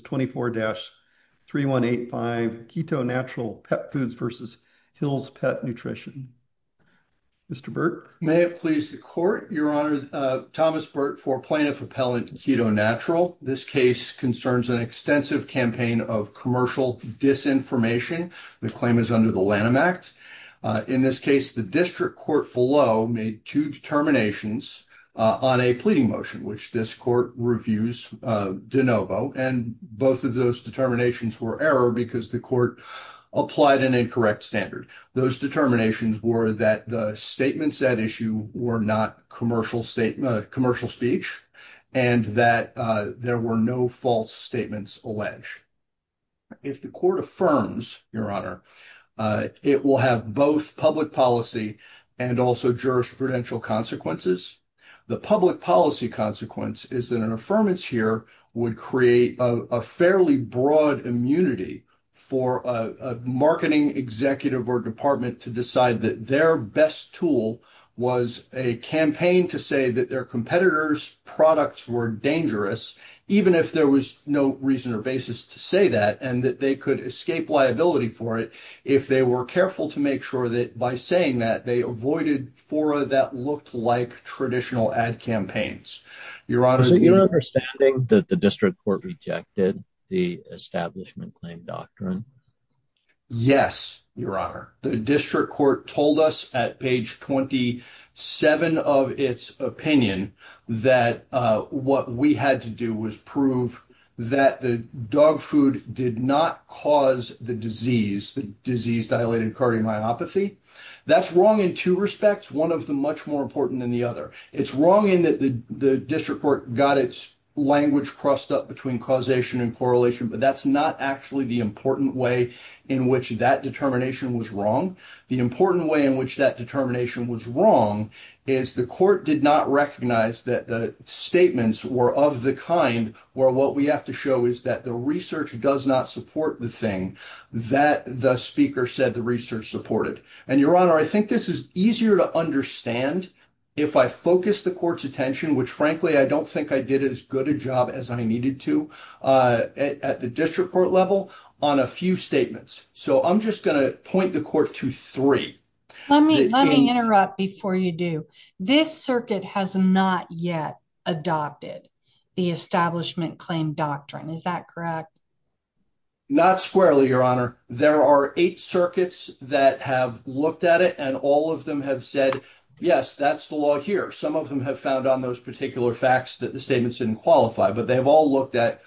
24-3185 KetoNatural Pet Foods v. Hill's Pet Nutrition. Mr. Burt. May it please the court, Your Honor, Thomas Burt for Plaintiff Appellant KetoNatural. This case concerns an extensive campaign of commercial disinformation. The claim is under the Lanham Act. In this case, the district court below made two determinations on a pleading motion, which this court reviews de novo, and both of those determinations were error because the court applied an incorrect standard. Those determinations were that the statements at issue were not commercial speech and that there were no false statements alleged. If the court affirms, Your Honor, it will have both public policy and also jurisprudential consequences. The public consequence is that an affirmance here would create a fairly broad immunity for a marketing executive or department to decide that their best tool was a campaign to say that their competitors' products were dangerous, even if there was no reason or basis to say that, and that they could escape liability for it if they were careful to make sure that by saying that they avoided fora that looked like traditional ad campaigns, Your Honor. Is it your understanding that the district court rejected the establishment claim doctrine? Yes, Your Honor. The district court told us at page 27 of its opinion that what we had to do was prove that the dog food did not cause the disease, the disease dilated cardiomyopathy. That's wrong in two respects, one of them much more important than the other. It's wrong in that the district court got its language crossed up between causation and correlation, but that's not actually the important way in which that determination was wrong. The important way in which that determination was wrong is the court did not recognize that the statements were of the kind where what we have to show is that the research does not support the thing that the speaker said the research supported. And Your Honor, I think this is easier to understand if I focus the court's attention, which frankly I don't think I did as good a job as I needed to at the district court level, on a few statements. So I'm just going to point the court to three. Let me interrupt before you do. This circuit has not yet adopted the establishment claim doctrine, is that correct? Not squarely, Your Honor. There are eight circuits that have looked at it and all of them have said, yes, that's the law here. Some of them have found on those particular facts that the statements didn't qualify, but they have all looked at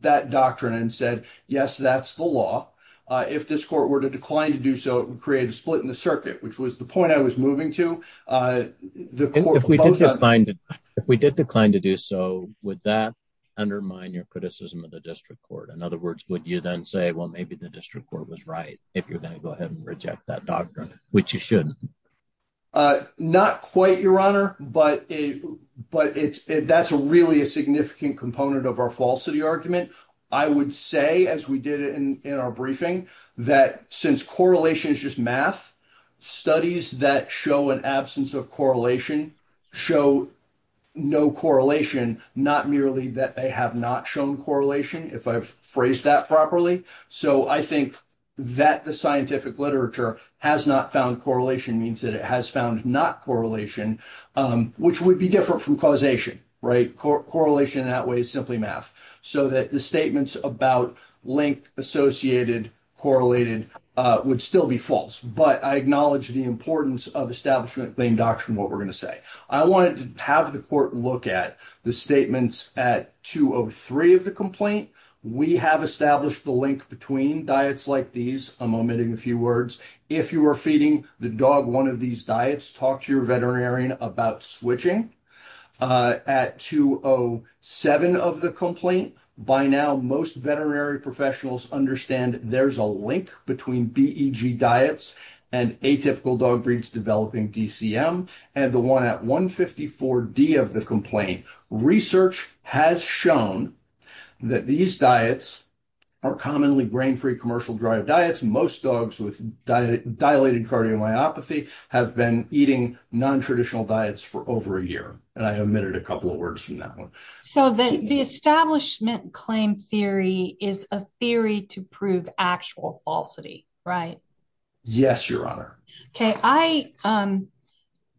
that doctrine and said, yes, that's the law. If this court were to decline to do so, it would create a split in the circuit, which was the point I was moving to. If we did decline to do so, would that undermine your criticism of the district court? In other words, would you then say, well, maybe the district court was right if you're going to go ahead and reject that doctrine, which you shouldn't? Not quite, Your Honor. But that's really a significant component of our falsity argument. I would say, as we did in our briefing, that since correlation is just math, studies that show an absence of correlation show no correlation, not merely that they have not shown correlation, if I've phrased that properly. So I think that the scientific literature has not found correlation means that it has found not correlation, which would be different from causation, right? Correlation in that way is simply math, so that the statements about linked, associated, correlated would still be false. But I acknowledge the importance of establishing the claim doctrine, what we're going to say. I wanted to have the court look at the statements at 203 of the complaint. We have established the link between diets like these. I'm omitting a few words. If you are feeding the dog one of these diets, talk to your veterinarian about switching. At 207 of the complaint, by now most veterinary professionals understand there's a link between BEG diets and atypical dog breeds developing DCM, and the one at 154D of the complaint. Research has shown that these diets are commonly grain-free commercial drive diets. Most dogs with dilated cardiomyopathy have been eating non-traditional diets for over a year. And I omitted a couple of words from that one. So the establishment claim theory is a theory to prove actual falsity, right? Yes, your honor. Okay,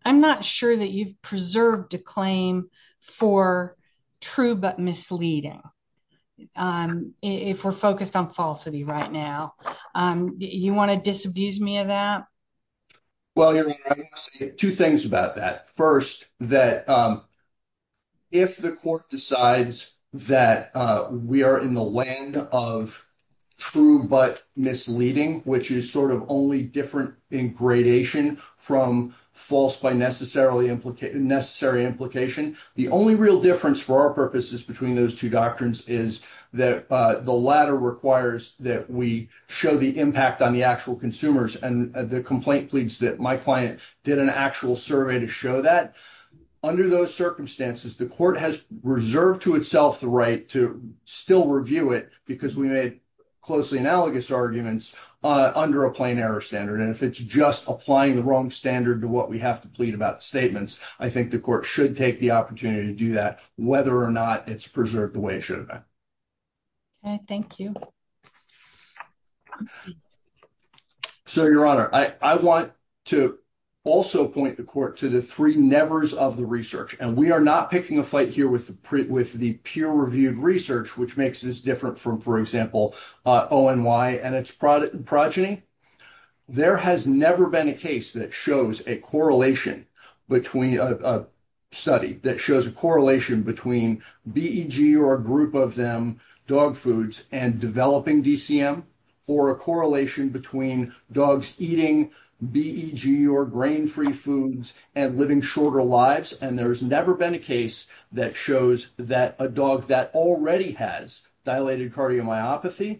I'm not sure that you've preserved a claim for true but misleading, if we're focused on falsity right now. You want to disabuse me of that? Well, two things about that. First, that if the court decides that we are in the land of true but misleading, which is sort of only different in gradation from false by necessary implication, the only real difference for our purposes between those two doctrines is that the latter requires that we show the impact on the actual consumers. And the complaint pleads that my client did an actual survey to show that. Under those circumstances, the court has reserved to itself the right to still review it because we made closely analogous arguments under a plain error standard. And if it's just applying the wrong standard to what we have to plead about the statements, I think the court should take the opportunity to do that, whether or not it's preserved the way it should have been. Okay, thank you. So, your honor, I want to also point the court to the three nevers of the research. And we are not picking a fight here with the peer-reviewed research, which makes this different from, for example, ONY and its progeny. There has never been a case that shows a correlation between a study, that shows a correlation between BEG or a group of them, dog foods, and developing DCM, or a correlation between dogs eating BEG or grain-free foods and living shorter lives. And there's never been a case that shows that a dog that already has dilated cardiomyopathy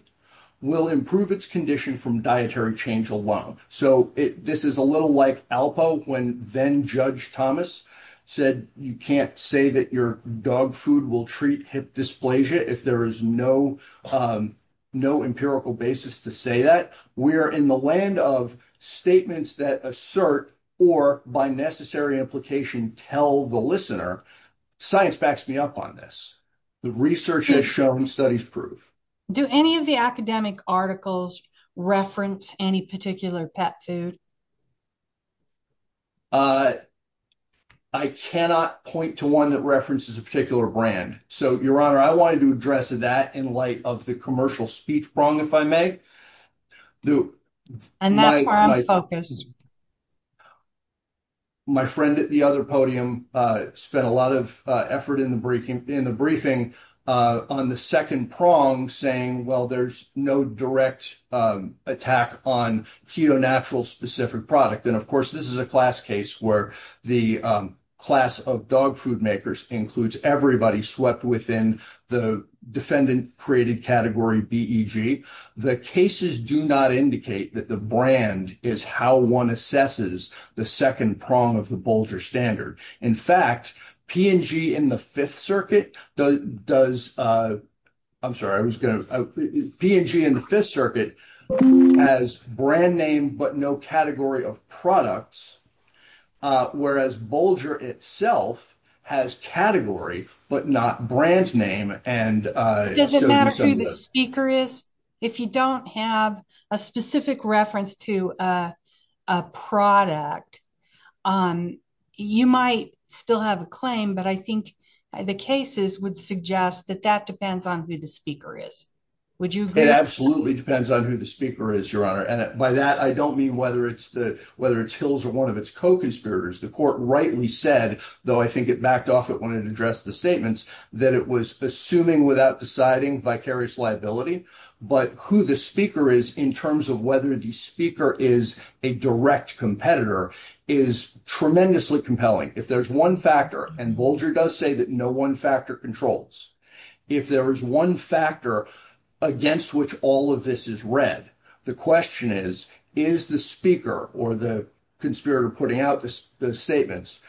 will improve its condition from dietary change alone. So, this is a little like ALPO when then-judge Thomas said, you can't say that your dog food will treat hip dysplasia if there is no empirical basis to say that. We are in the land of statements that assert, or by necessary implication, tell the listener, science backs me up on this. The research has shown studies prove. Do any of the academic articles reference any particular pet food? I cannot point to one that references a particular brand. So, your honor, I wanted to address that in light of the commercial speech prong, if I may. And that's where I'm focused. My friend at the other podium spent a lot of effort in the briefing on the second prong, saying, well, there's no direct attack on ketonatural-specific product. And of course, this is a class case where the class of dog food makers includes everybody swept within the defendant-created category BEG. The cases do not indicate that the brand is how one assesses the second prong of the Bolger standard. In fact, P&G in the Fifth Circuit does, I'm sorry, I was going to, P&G in the Fifth Circuit has brand name but no category of products, whereas Bolger itself has category but not brand name. Does it matter who the speaker is? If you don't have a specific reference to a product, you might still have a claim, but I think the cases would suggest that that depends on who the speaker is. Would you agree? It absolutely depends on who the speaker is, your honor. And by that, I don't mean whether it's Hills or one of its co-conspirators. The court rightly said, though I think it backed off it when it addressed the statements, that it was assuming without deciding vicarious liability, but who the speaker is in terms of whether the speaker is a direct competitor is tremendously compelling. If there's one factor, and Bolger does say that no one factor controls, if there is one factor against which all of this is read, the question is, is the speaker or the conspirator putting out the statements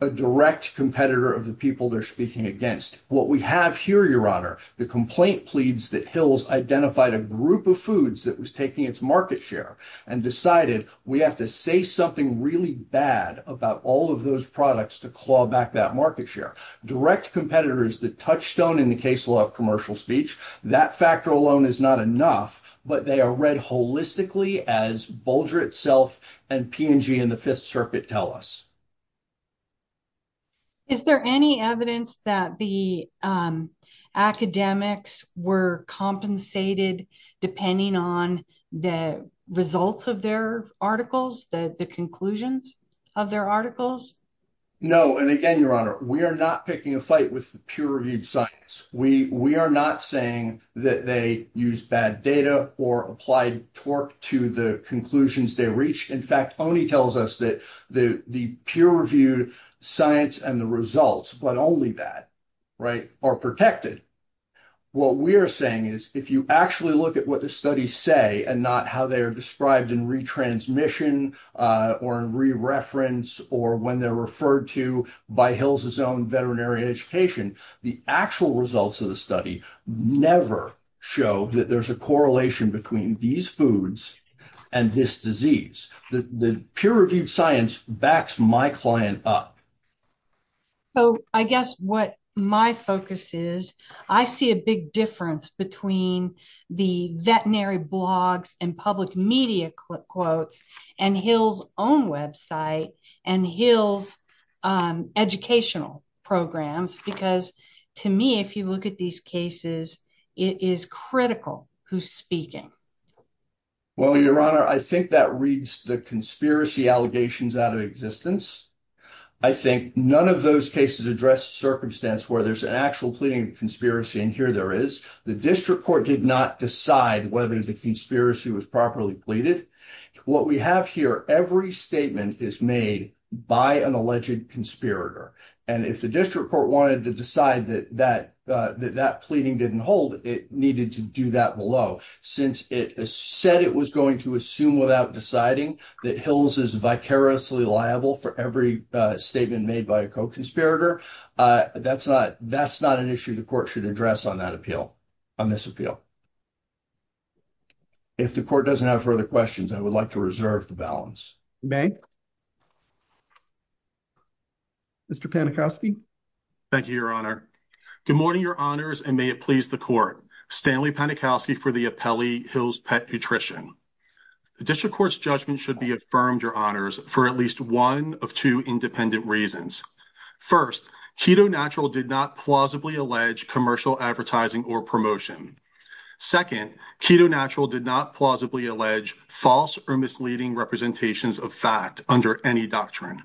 a direct competitor of the people they're speaking against? What we have here, your honor, the complaint pleads that Hills identified a group of foods that was taking its market share and decided we have to say something really bad about all of those products to claw back that market share. Direct competitors, the touchstone in the case law of commercial speech, that factor alone is not enough, but they are read holistically as Bolger itself and P&G in the Fifth Circuit tell us. Is there any evidence that the academics were compensated depending on the results of their articles, the conclusions of their articles? No, and again, your honor, we are not picking a fight with the peer-reviewed science. We are not saying that they used bad data or applied torque to the conclusions they reached. In fact, Oney tells us that the peer-reviewed science and the results, but only that, right, are protected. What we are saying is, if you actually look at what the studies say and not how they are described in retransmission or in re-reference or when they're referred to by Hills' own veterinary education, the actual results of the study never show that there's a correlation between these foods and this disease. The peer-reviewed science backs my client up. So I guess what my focus is, I see a big difference between the veterinary blogs and public media quotes and Hill's own website and Hill's educational programs, because to me, if you look at these cases, it is critical who's speaking. Well, your honor, I think that reads the conspiracy allegations out of existence. I think none of those cases address circumstance where there's an actual pleading conspiracy, and here there is. The district court did not decide whether the conspiracy was properly pleaded. What we have here, every statement is made by an alleged conspirator, and if the district court wanted to decide that that pleading didn't hold, it needed to do that below. Since it said it was going to assume without deciding that Hills is vicariously liable for every statement made by a co-conspirator, that's not an issue the court should address on that appeal, on this appeal. If the court doesn't have further questions, I would like to reserve the balance. Mr. Panikowsky. Thank you, your honor. Good morning, your honors, and may it please the court. Stanley Panikowsky for the appellee, Hill's Pet Nutrition. The district court's judgment should be affirmed, your honors, for at least one of two independent reasons. First, Keto Natural did not plausibly allege commercial advertising or promotion. Second, Keto Natural did not plausibly allege false or misleading representations of fact under any doctrine.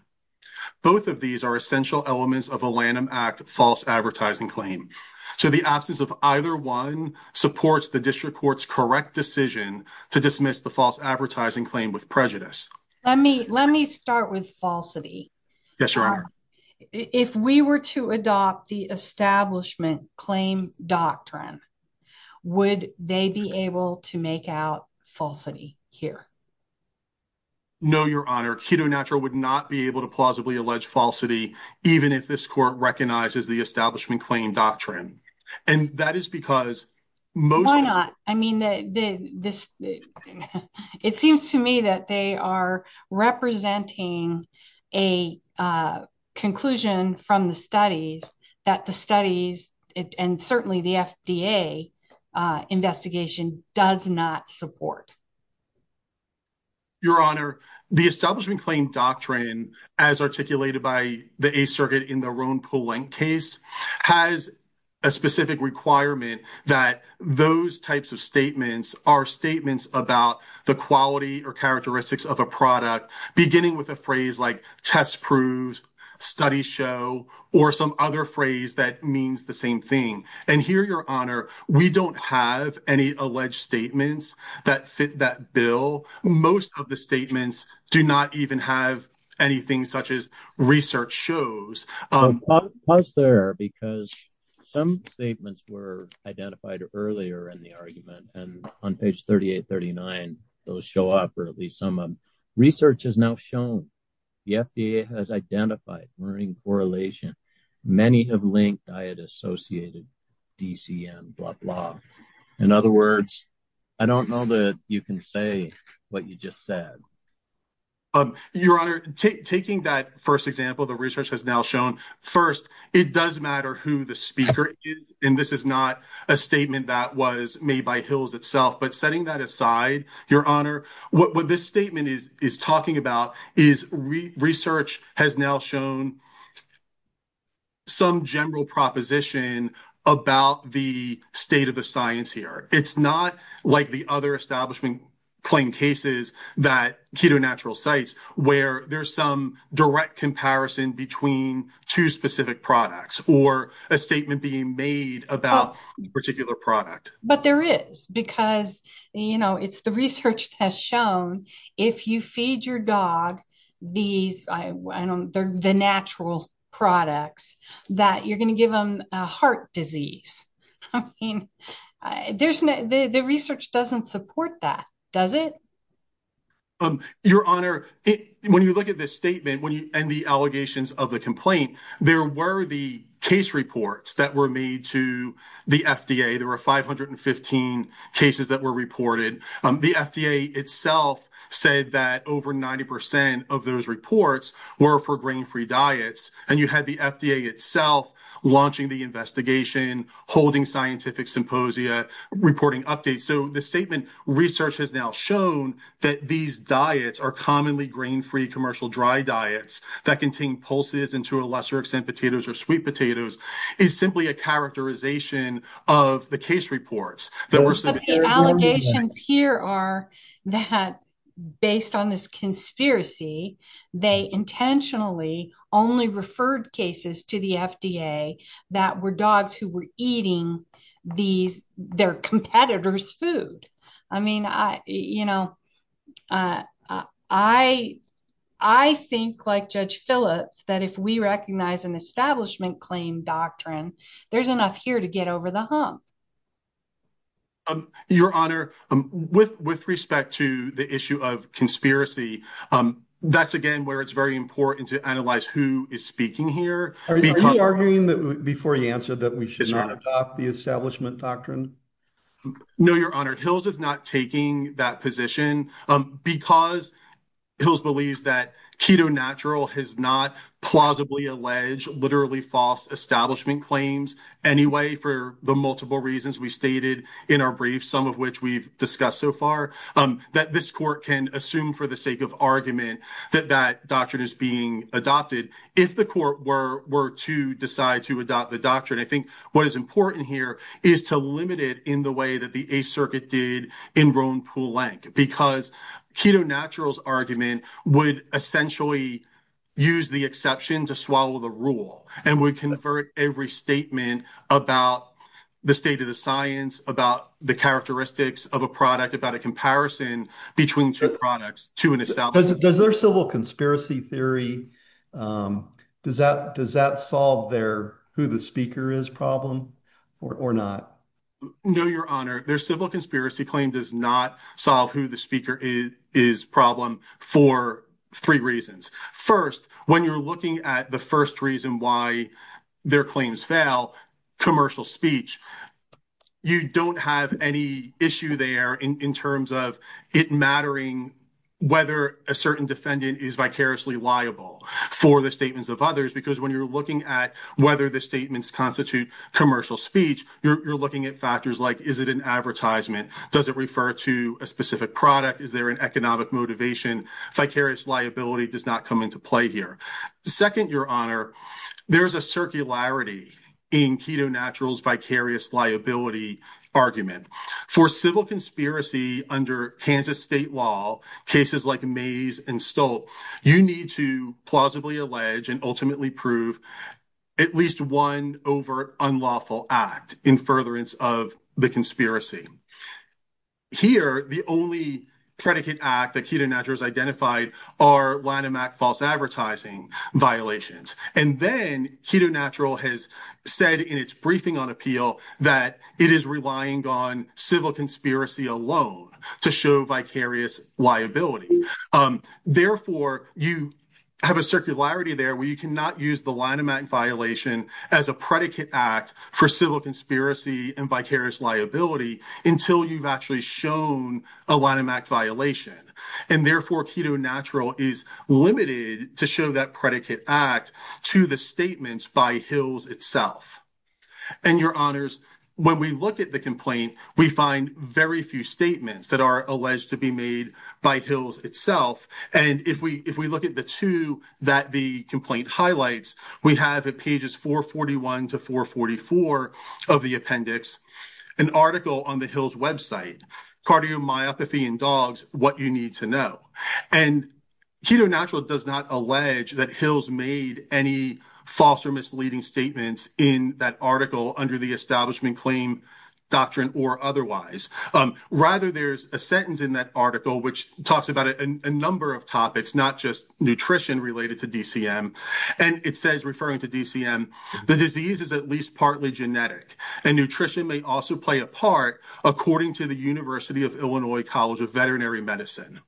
Both of these are essential elements of a Lanham Act false advertising claim, so the absence of either one supports the district court's correct decision to dismiss the false advertising claim with prejudice. Let me start with falsity. Yes, your honor. If we were to adopt the establishment claim doctrine, would they be able to make out falsity here? No, your honor. Keto Natural would not be able to plausibly allege falsity, even if this court recognizes the establishment claim doctrine, and that is because most... Why not? I mean, it seems to me that they are representing a conclusion from the studies that the studies, and certainly the FDA investigation, does not support. Your honor, the establishment claim doctrine, as articulated by the Eighth Circuit in the types of statements, are statements about the quality or characteristics of a product, beginning with a phrase like test proves, study show, or some other phrase that means the same thing. And here, your honor, we don't have any alleged statements that fit that bill. Most of the statements do not even have anything such as research shows. Pause there, because some statements were identified earlier in the argument, and on page 38, 39, those show up, or at least some of them. Research has now shown the FDA has identified learning correlation. Many have linked diet associated DCM, blah, blah. In other words, I don't know that you can say what you just said. Your honor, taking that first example, the research has now shown, first, it does matter who the speaker is, and this is not a statement that was made by Hills itself. But setting that aside, your honor, what this statement is talking about is research has now shown some general proposition about the state of the science here. It's not like the other establishment plain cases that Keto Natural cites, where there's some direct comparison between two specific products, or a statement being made about a particular product. But there is, because it's the research that has shown if you feed your dog these, the natural products, that you're going to give them a heart disease. I mean, the research doesn't support that, does it? Your honor, when you look at this statement, when you end the allegations of the complaint, there were the case reports that were made to the FDA. There were 515 cases that were reported. The FDA itself said that over 90% of those reports were for grain-free diets, and you had the FDA itself launching the investigation, holding scientific symposia, reporting updates. So the statement, research has now shown that these diets are commonly grain-free commercial dry diets that contain pulses, and to a lesser extent, potatoes or sweet potatoes, is simply a characterization of the case reports. But the allegations here are that based on this conspiracy, they intentionally only referred cases to the FDA that were dogs who were eating their competitors' food. I mean, you know, I think like Judge Phillips, that if we recognize an establishment claim doctrine, there's enough here to get over the hump. Your honor, with respect to the issue of conspiracy, that's again where it's very important to analyze who is speaking here. Are you arguing, before you answer, that we should not adopt the establishment doctrine? No, your honor. Hills is not taking that position because Hills believes that Keto Natural has not plausibly alleged literally false establishment claims anyway for the multiple reasons we stated in our brief, some of which we've discussed so far, that this court can assume for the sake of argument that that doctrine is being adopted. If the court were to decide to adopt the doctrine, I think what is important here is to limit it in the way that the Eighth Circuit did in Rhone-Poulenc, because Keto Natural's argument would essentially use the exception to swallow the rule and would convert every statement about the state of the science, about the characteristics of a product, about a comparison between two products to an establishment. Does their civil conspiracy theory, does that solve their who the speaker is problem or not? No, your honor. Their civil conspiracy claim does not solve who the speaker is problem for three reasons. First, when you're looking at the first reason why their claims fail, commercial speech, you don't have any issue there in terms of it mattering whether a certain defendant is vicariously liable for the statements of others, because when you're looking at whether the statements constitute commercial speech, you're looking at factors like is it an advertisement? Does it refer to a specific product? Is there an economic motivation? Vicarious liability does not come into play here. Second, your honor, there is a circularity in Keto Natural's vicarious liability argument. For civil conspiracy under Kansas state law, cases like Mays and Stolt, you need to plausibly allege and ultimately prove at least one overt unlawful act in furtherance of the conspiracy. Here, the only predicate act that Keto Natural has identified are Lanham Act false advertising violations. And then Keto Natural has said in its briefing on appeal that it is relying on civil conspiracy alone to show vicarious liability. Therefore, you have a circularity there where you cannot use the Lanham Act violation as a predicate act for civil conspiracy and vicarious liability until you've actually shown a Lanham Act violation. And therefore, Keto Natural is limited to show that predicate act to the statements by Hills itself. And your honors, when we look at the complaint, we find very few statements that are alleged to be made by Hills itself. And if we look at the two that the complaint highlights, we have at pages 441 to 444 of the appendix, an article on the Hills website, cardiomyopathy in dogs, what you need to know. And Keto Natural does not allege that Hills made any false or misleading statements in that article under the establishment claim doctrine or otherwise. Rather, there's a sentence in that article which talks about a number of not just nutrition related to DCM. And it says referring to DCM, the disease is at least partly genetic and nutrition may also play a part according to the University of Illinois College of Veterinary Medicine.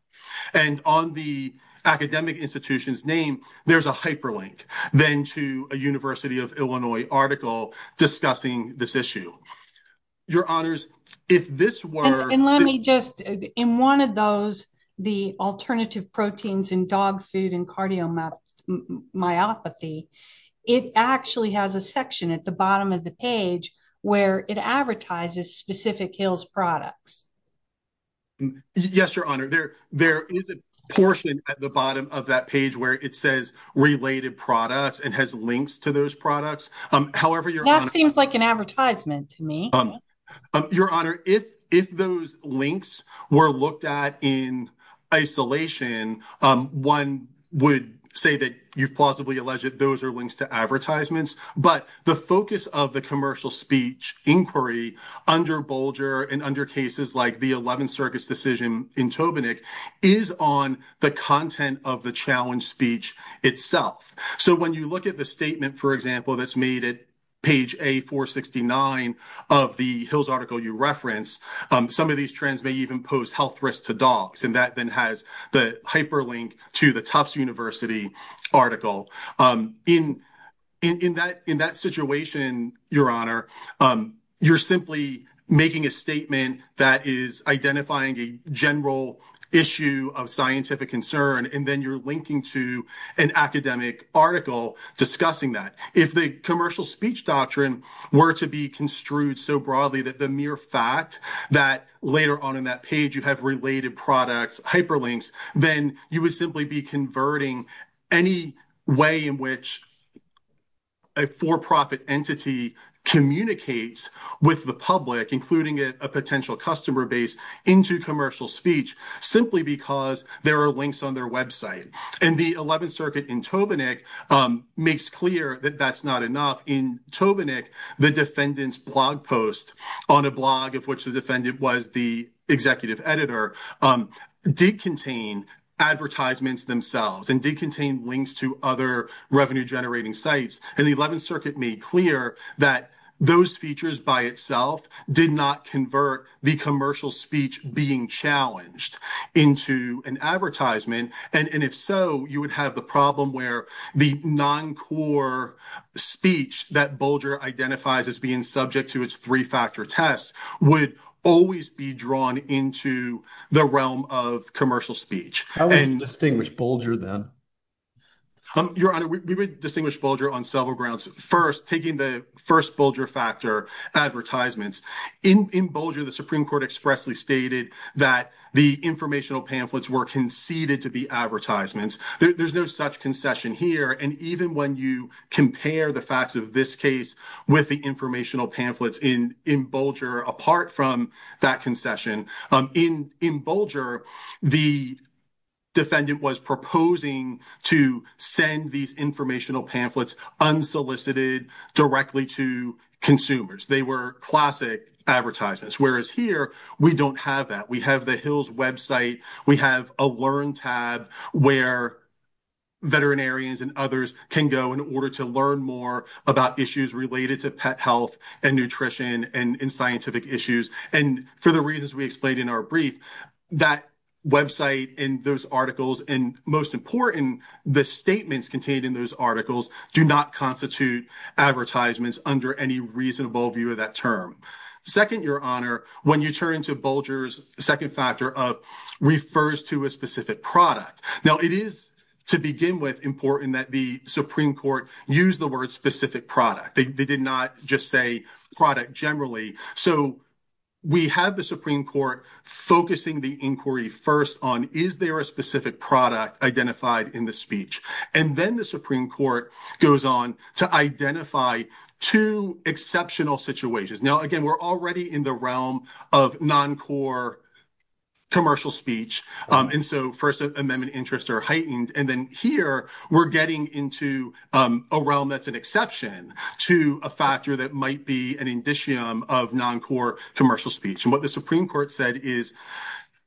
And on the academic institution's name, there's a hyperlink then to a University of Illinois article discussing this issue. Your honors, if this were- in dog food and cardiomyopathy, it actually has a section at the bottom of the page where it advertises specific Hills products. Yes, your honor. There is a portion at the bottom of that page where it says related products and has links to those products. However, your honor- That seems like an advertisement to me. Your honor, if those links were looked at in isolation, one would say that you've plausibly alleged that those are links to advertisements. But the focus of the commercial speech inquiry under Bolger and under cases like the 11th Circus decision in Tobinick is on the content of the challenge speech itself. So when you look at the statement, for example, that's made at page 469 of the Hills article you referenced, some of these trends may even pose health risks to dogs. And that then has the hyperlink to the Tufts University article. In that situation, your honor, you're simply making a statement that is identifying a general issue of scientific concern. And then you're linking to an academic article discussing that. If the commercial speech doctrine were to be construed so broadly that the mere fact that later on in that page, you have related products, hyperlinks, then you would simply be converting any way in which a for-profit entity communicates with the public, including a potential customer base into commercial speech, simply because there are links on their website. And the 11th Circuit in Tobinick makes clear that that's not enough. In Tobinick, the defendant's blog post on a blog of which the defendant was the executive editor did contain advertisements themselves and did contain links to other revenue-generating sites. And the 11th Circuit made clear that those features by itself did not convert the commercial speech being challenged into an advertisement. And if so, you would have the problem where the non-core speech that Bolger identifies as being subject to its three-factor test would always be drawn into the realm of commercial speech. How would you distinguish Bolger then? Your honor, we would distinguish Bolger on several grounds. First, taking the first Bolger factor, advertisements. In Bolger, the Supreme Court expressly stated that the informational pamphlets were conceded to be advertisements. There's no such concession here. And even when you compare the facts of this case with the informational pamphlets in Bolger apart from that concession, in Bolger, the defendant was proposing to send these informational pamphlets unsolicited directly to consumers. They were classic advertisements. Whereas here, we don't have that. We have the Hill's website. We have a Learn tab where veterinarians and others can go in order to learn more about issues related to pet health and nutrition and scientific issues. And for the reasons we explained in our brief, that website and those articles and most important, the statements contained in those articles do not constitute advertisements under any reasonable view of that term. Second, your honor, when you turn to Bolger's second factor of refers to a specific product. Now it is to begin with important that the Supreme Court use the word specific product. They did not just say product generally. So we have the Supreme Court focusing the inquiry first on, is there a specific product identified in the speech? And then the Supreme Court goes on to identify two exceptional situations. Now, again, we're already in the realm of non-core commercial speech. And so first amendment interests are heightened. And then here we're getting into a realm that's an exception to a factor that might be an indicium of non-core commercial speech. And what the Supreme Court said is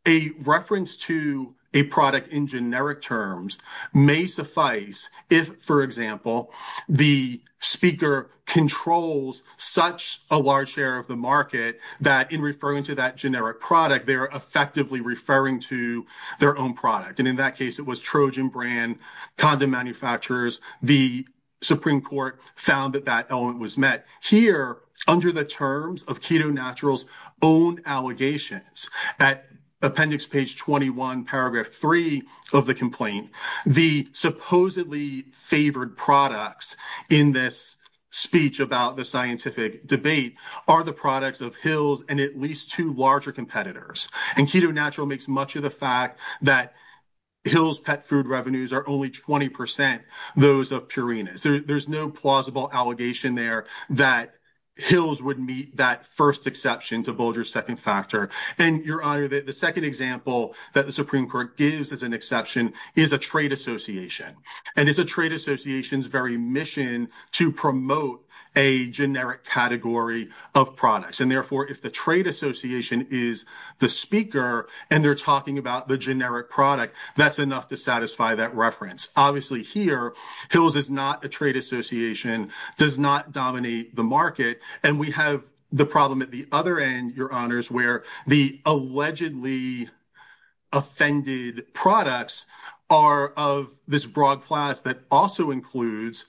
a reference to a product in generic terms may suffice. If for example, the speaker controls such a large share of the market that in referring to that generic product, they are effectively referring to their own product. And in that case, it was Trojan brand, condom manufacturers. The Supreme Court found that that element was met here under the terms of Keto Naturals own allegations that appendix page 21, paragraph three of the complaint, the supposedly favored products in this speech about the scientific debate are the products of Hill's and at least two larger competitors. And Keto Natural makes much of the fact that Hill's pet food revenues are only 20% those of Purina's. There's no plausible allegation there that Hill's would meet that first exception to Bulger's second factor. And Your Honor, the second example that the Supreme Court gives as an exception is a trade association. And it's a trade association's very mission to promote a generic category of products. And therefore, if the trade association is the speaker and they're talking about the generic product, that's enough to satisfy that reference. Obviously here, Hill's is not a trade association, does not dominate the market. And we have the problem at the other end, Your Honors, where the allegedly offended products are of this broad class that also includes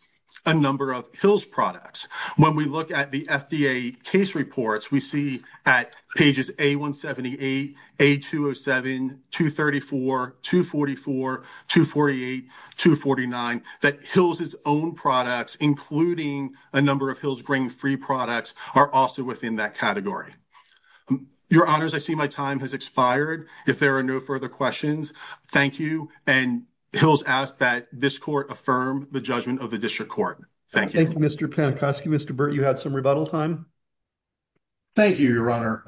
a number of Hill's products. When we look at the FDA case reports, we see at pages A-178, A-207, 234, 244, 248, 249, that Hill's own products, including a number of Hill's grain-free products are also within that category. Your Honors, I see my time has expired. If there are no further questions, thank you. And Hill's asks that this court affirm the judgment of the district court. Thank you. Thank you, Mr. Panikoski. Mr. Burt, you had some rebuttal time. Thank you, Your Honor.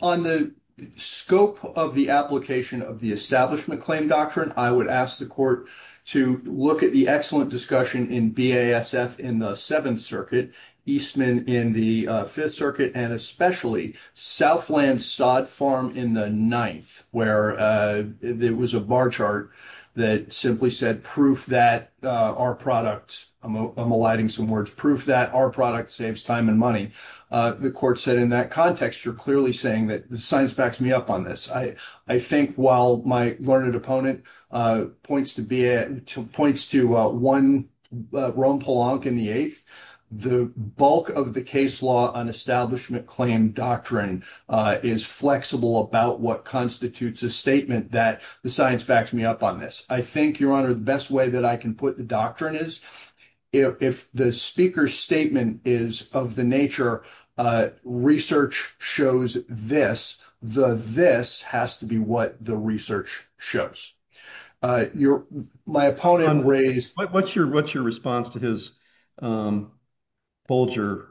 On the scope of the application of the establishment claim doctrine, I would ask the court to look at the excellent discussion in BASF in the Seventh Circuit, Eastman in the Fifth Circuit, and especially Southland Sod Farm in the Ninth, where there was a bar chart that simply said, proof that our product, I'm eliding some words, proof that our product saves time and money. The court said in that context, you're clearly saying that the science backs me up on this. I think while my learned opponent points to one, Rome Polonc in the Eighth, the bulk of the case law on establishment claim doctrine is flexible about what constitutes a statement that the science backs me up on this. I think, Your Honor, the best way that I can put the doctrine is, if the speaker's statement is of the nature, research shows this, the this has to be what the research shows. Your, my opponent raised, what's your, what's your response to his Bulger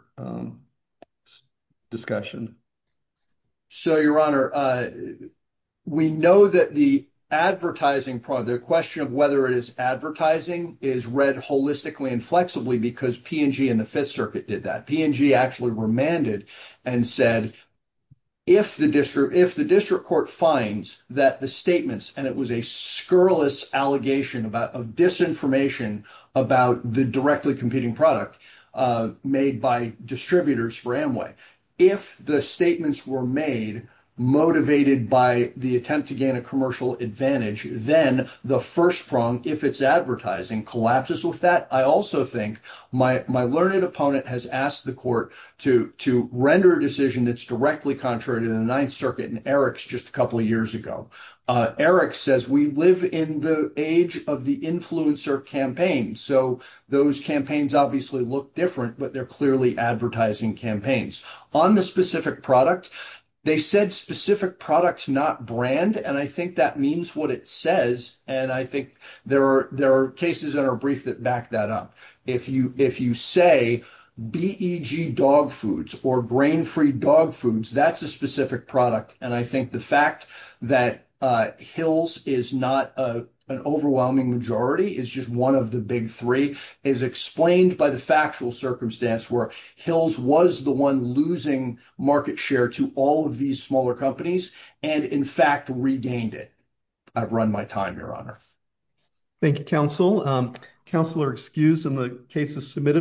discussion? So, Your Honor, we know that the advertising product, the question of whether it is advertising is read holistically and flexibly because P&G in the Fifth Circuit did that. P&G actually remanded and said, if the district, if the district court finds that the statements, and it was a scurrilous allegation about, of disinformation about the directly competing product made by distributors for Amway, if the statements were made motivated by the attempt to gain a commercial advantage, then the first prong, if it's advertising, collapses with that. I also think my, my learned opponent has asked the court to, to render a decision that's directly contrary to the Ninth Circuit and Eric's just a couple of years ago. Eric says we live in the age of the influencer campaign, so those campaigns obviously look different, but they're clearly advertising campaigns. On the specific product, they said specific product, not brand, and I think that means what it says, and I think there are, there are cases in our brief that back that up. If you, if you say BEG dog foods or grain-free dog foods, that's a specific product, and I think the fact that Hills is not an overwhelming majority, is just one of the big three, is explained by the factual circumstance where Hills was the one losing market share to all of these smaller companies and in fact regained it. I've run my time, Your Honor. Thank you, Counsel. Counselor Skews in the case is submitted.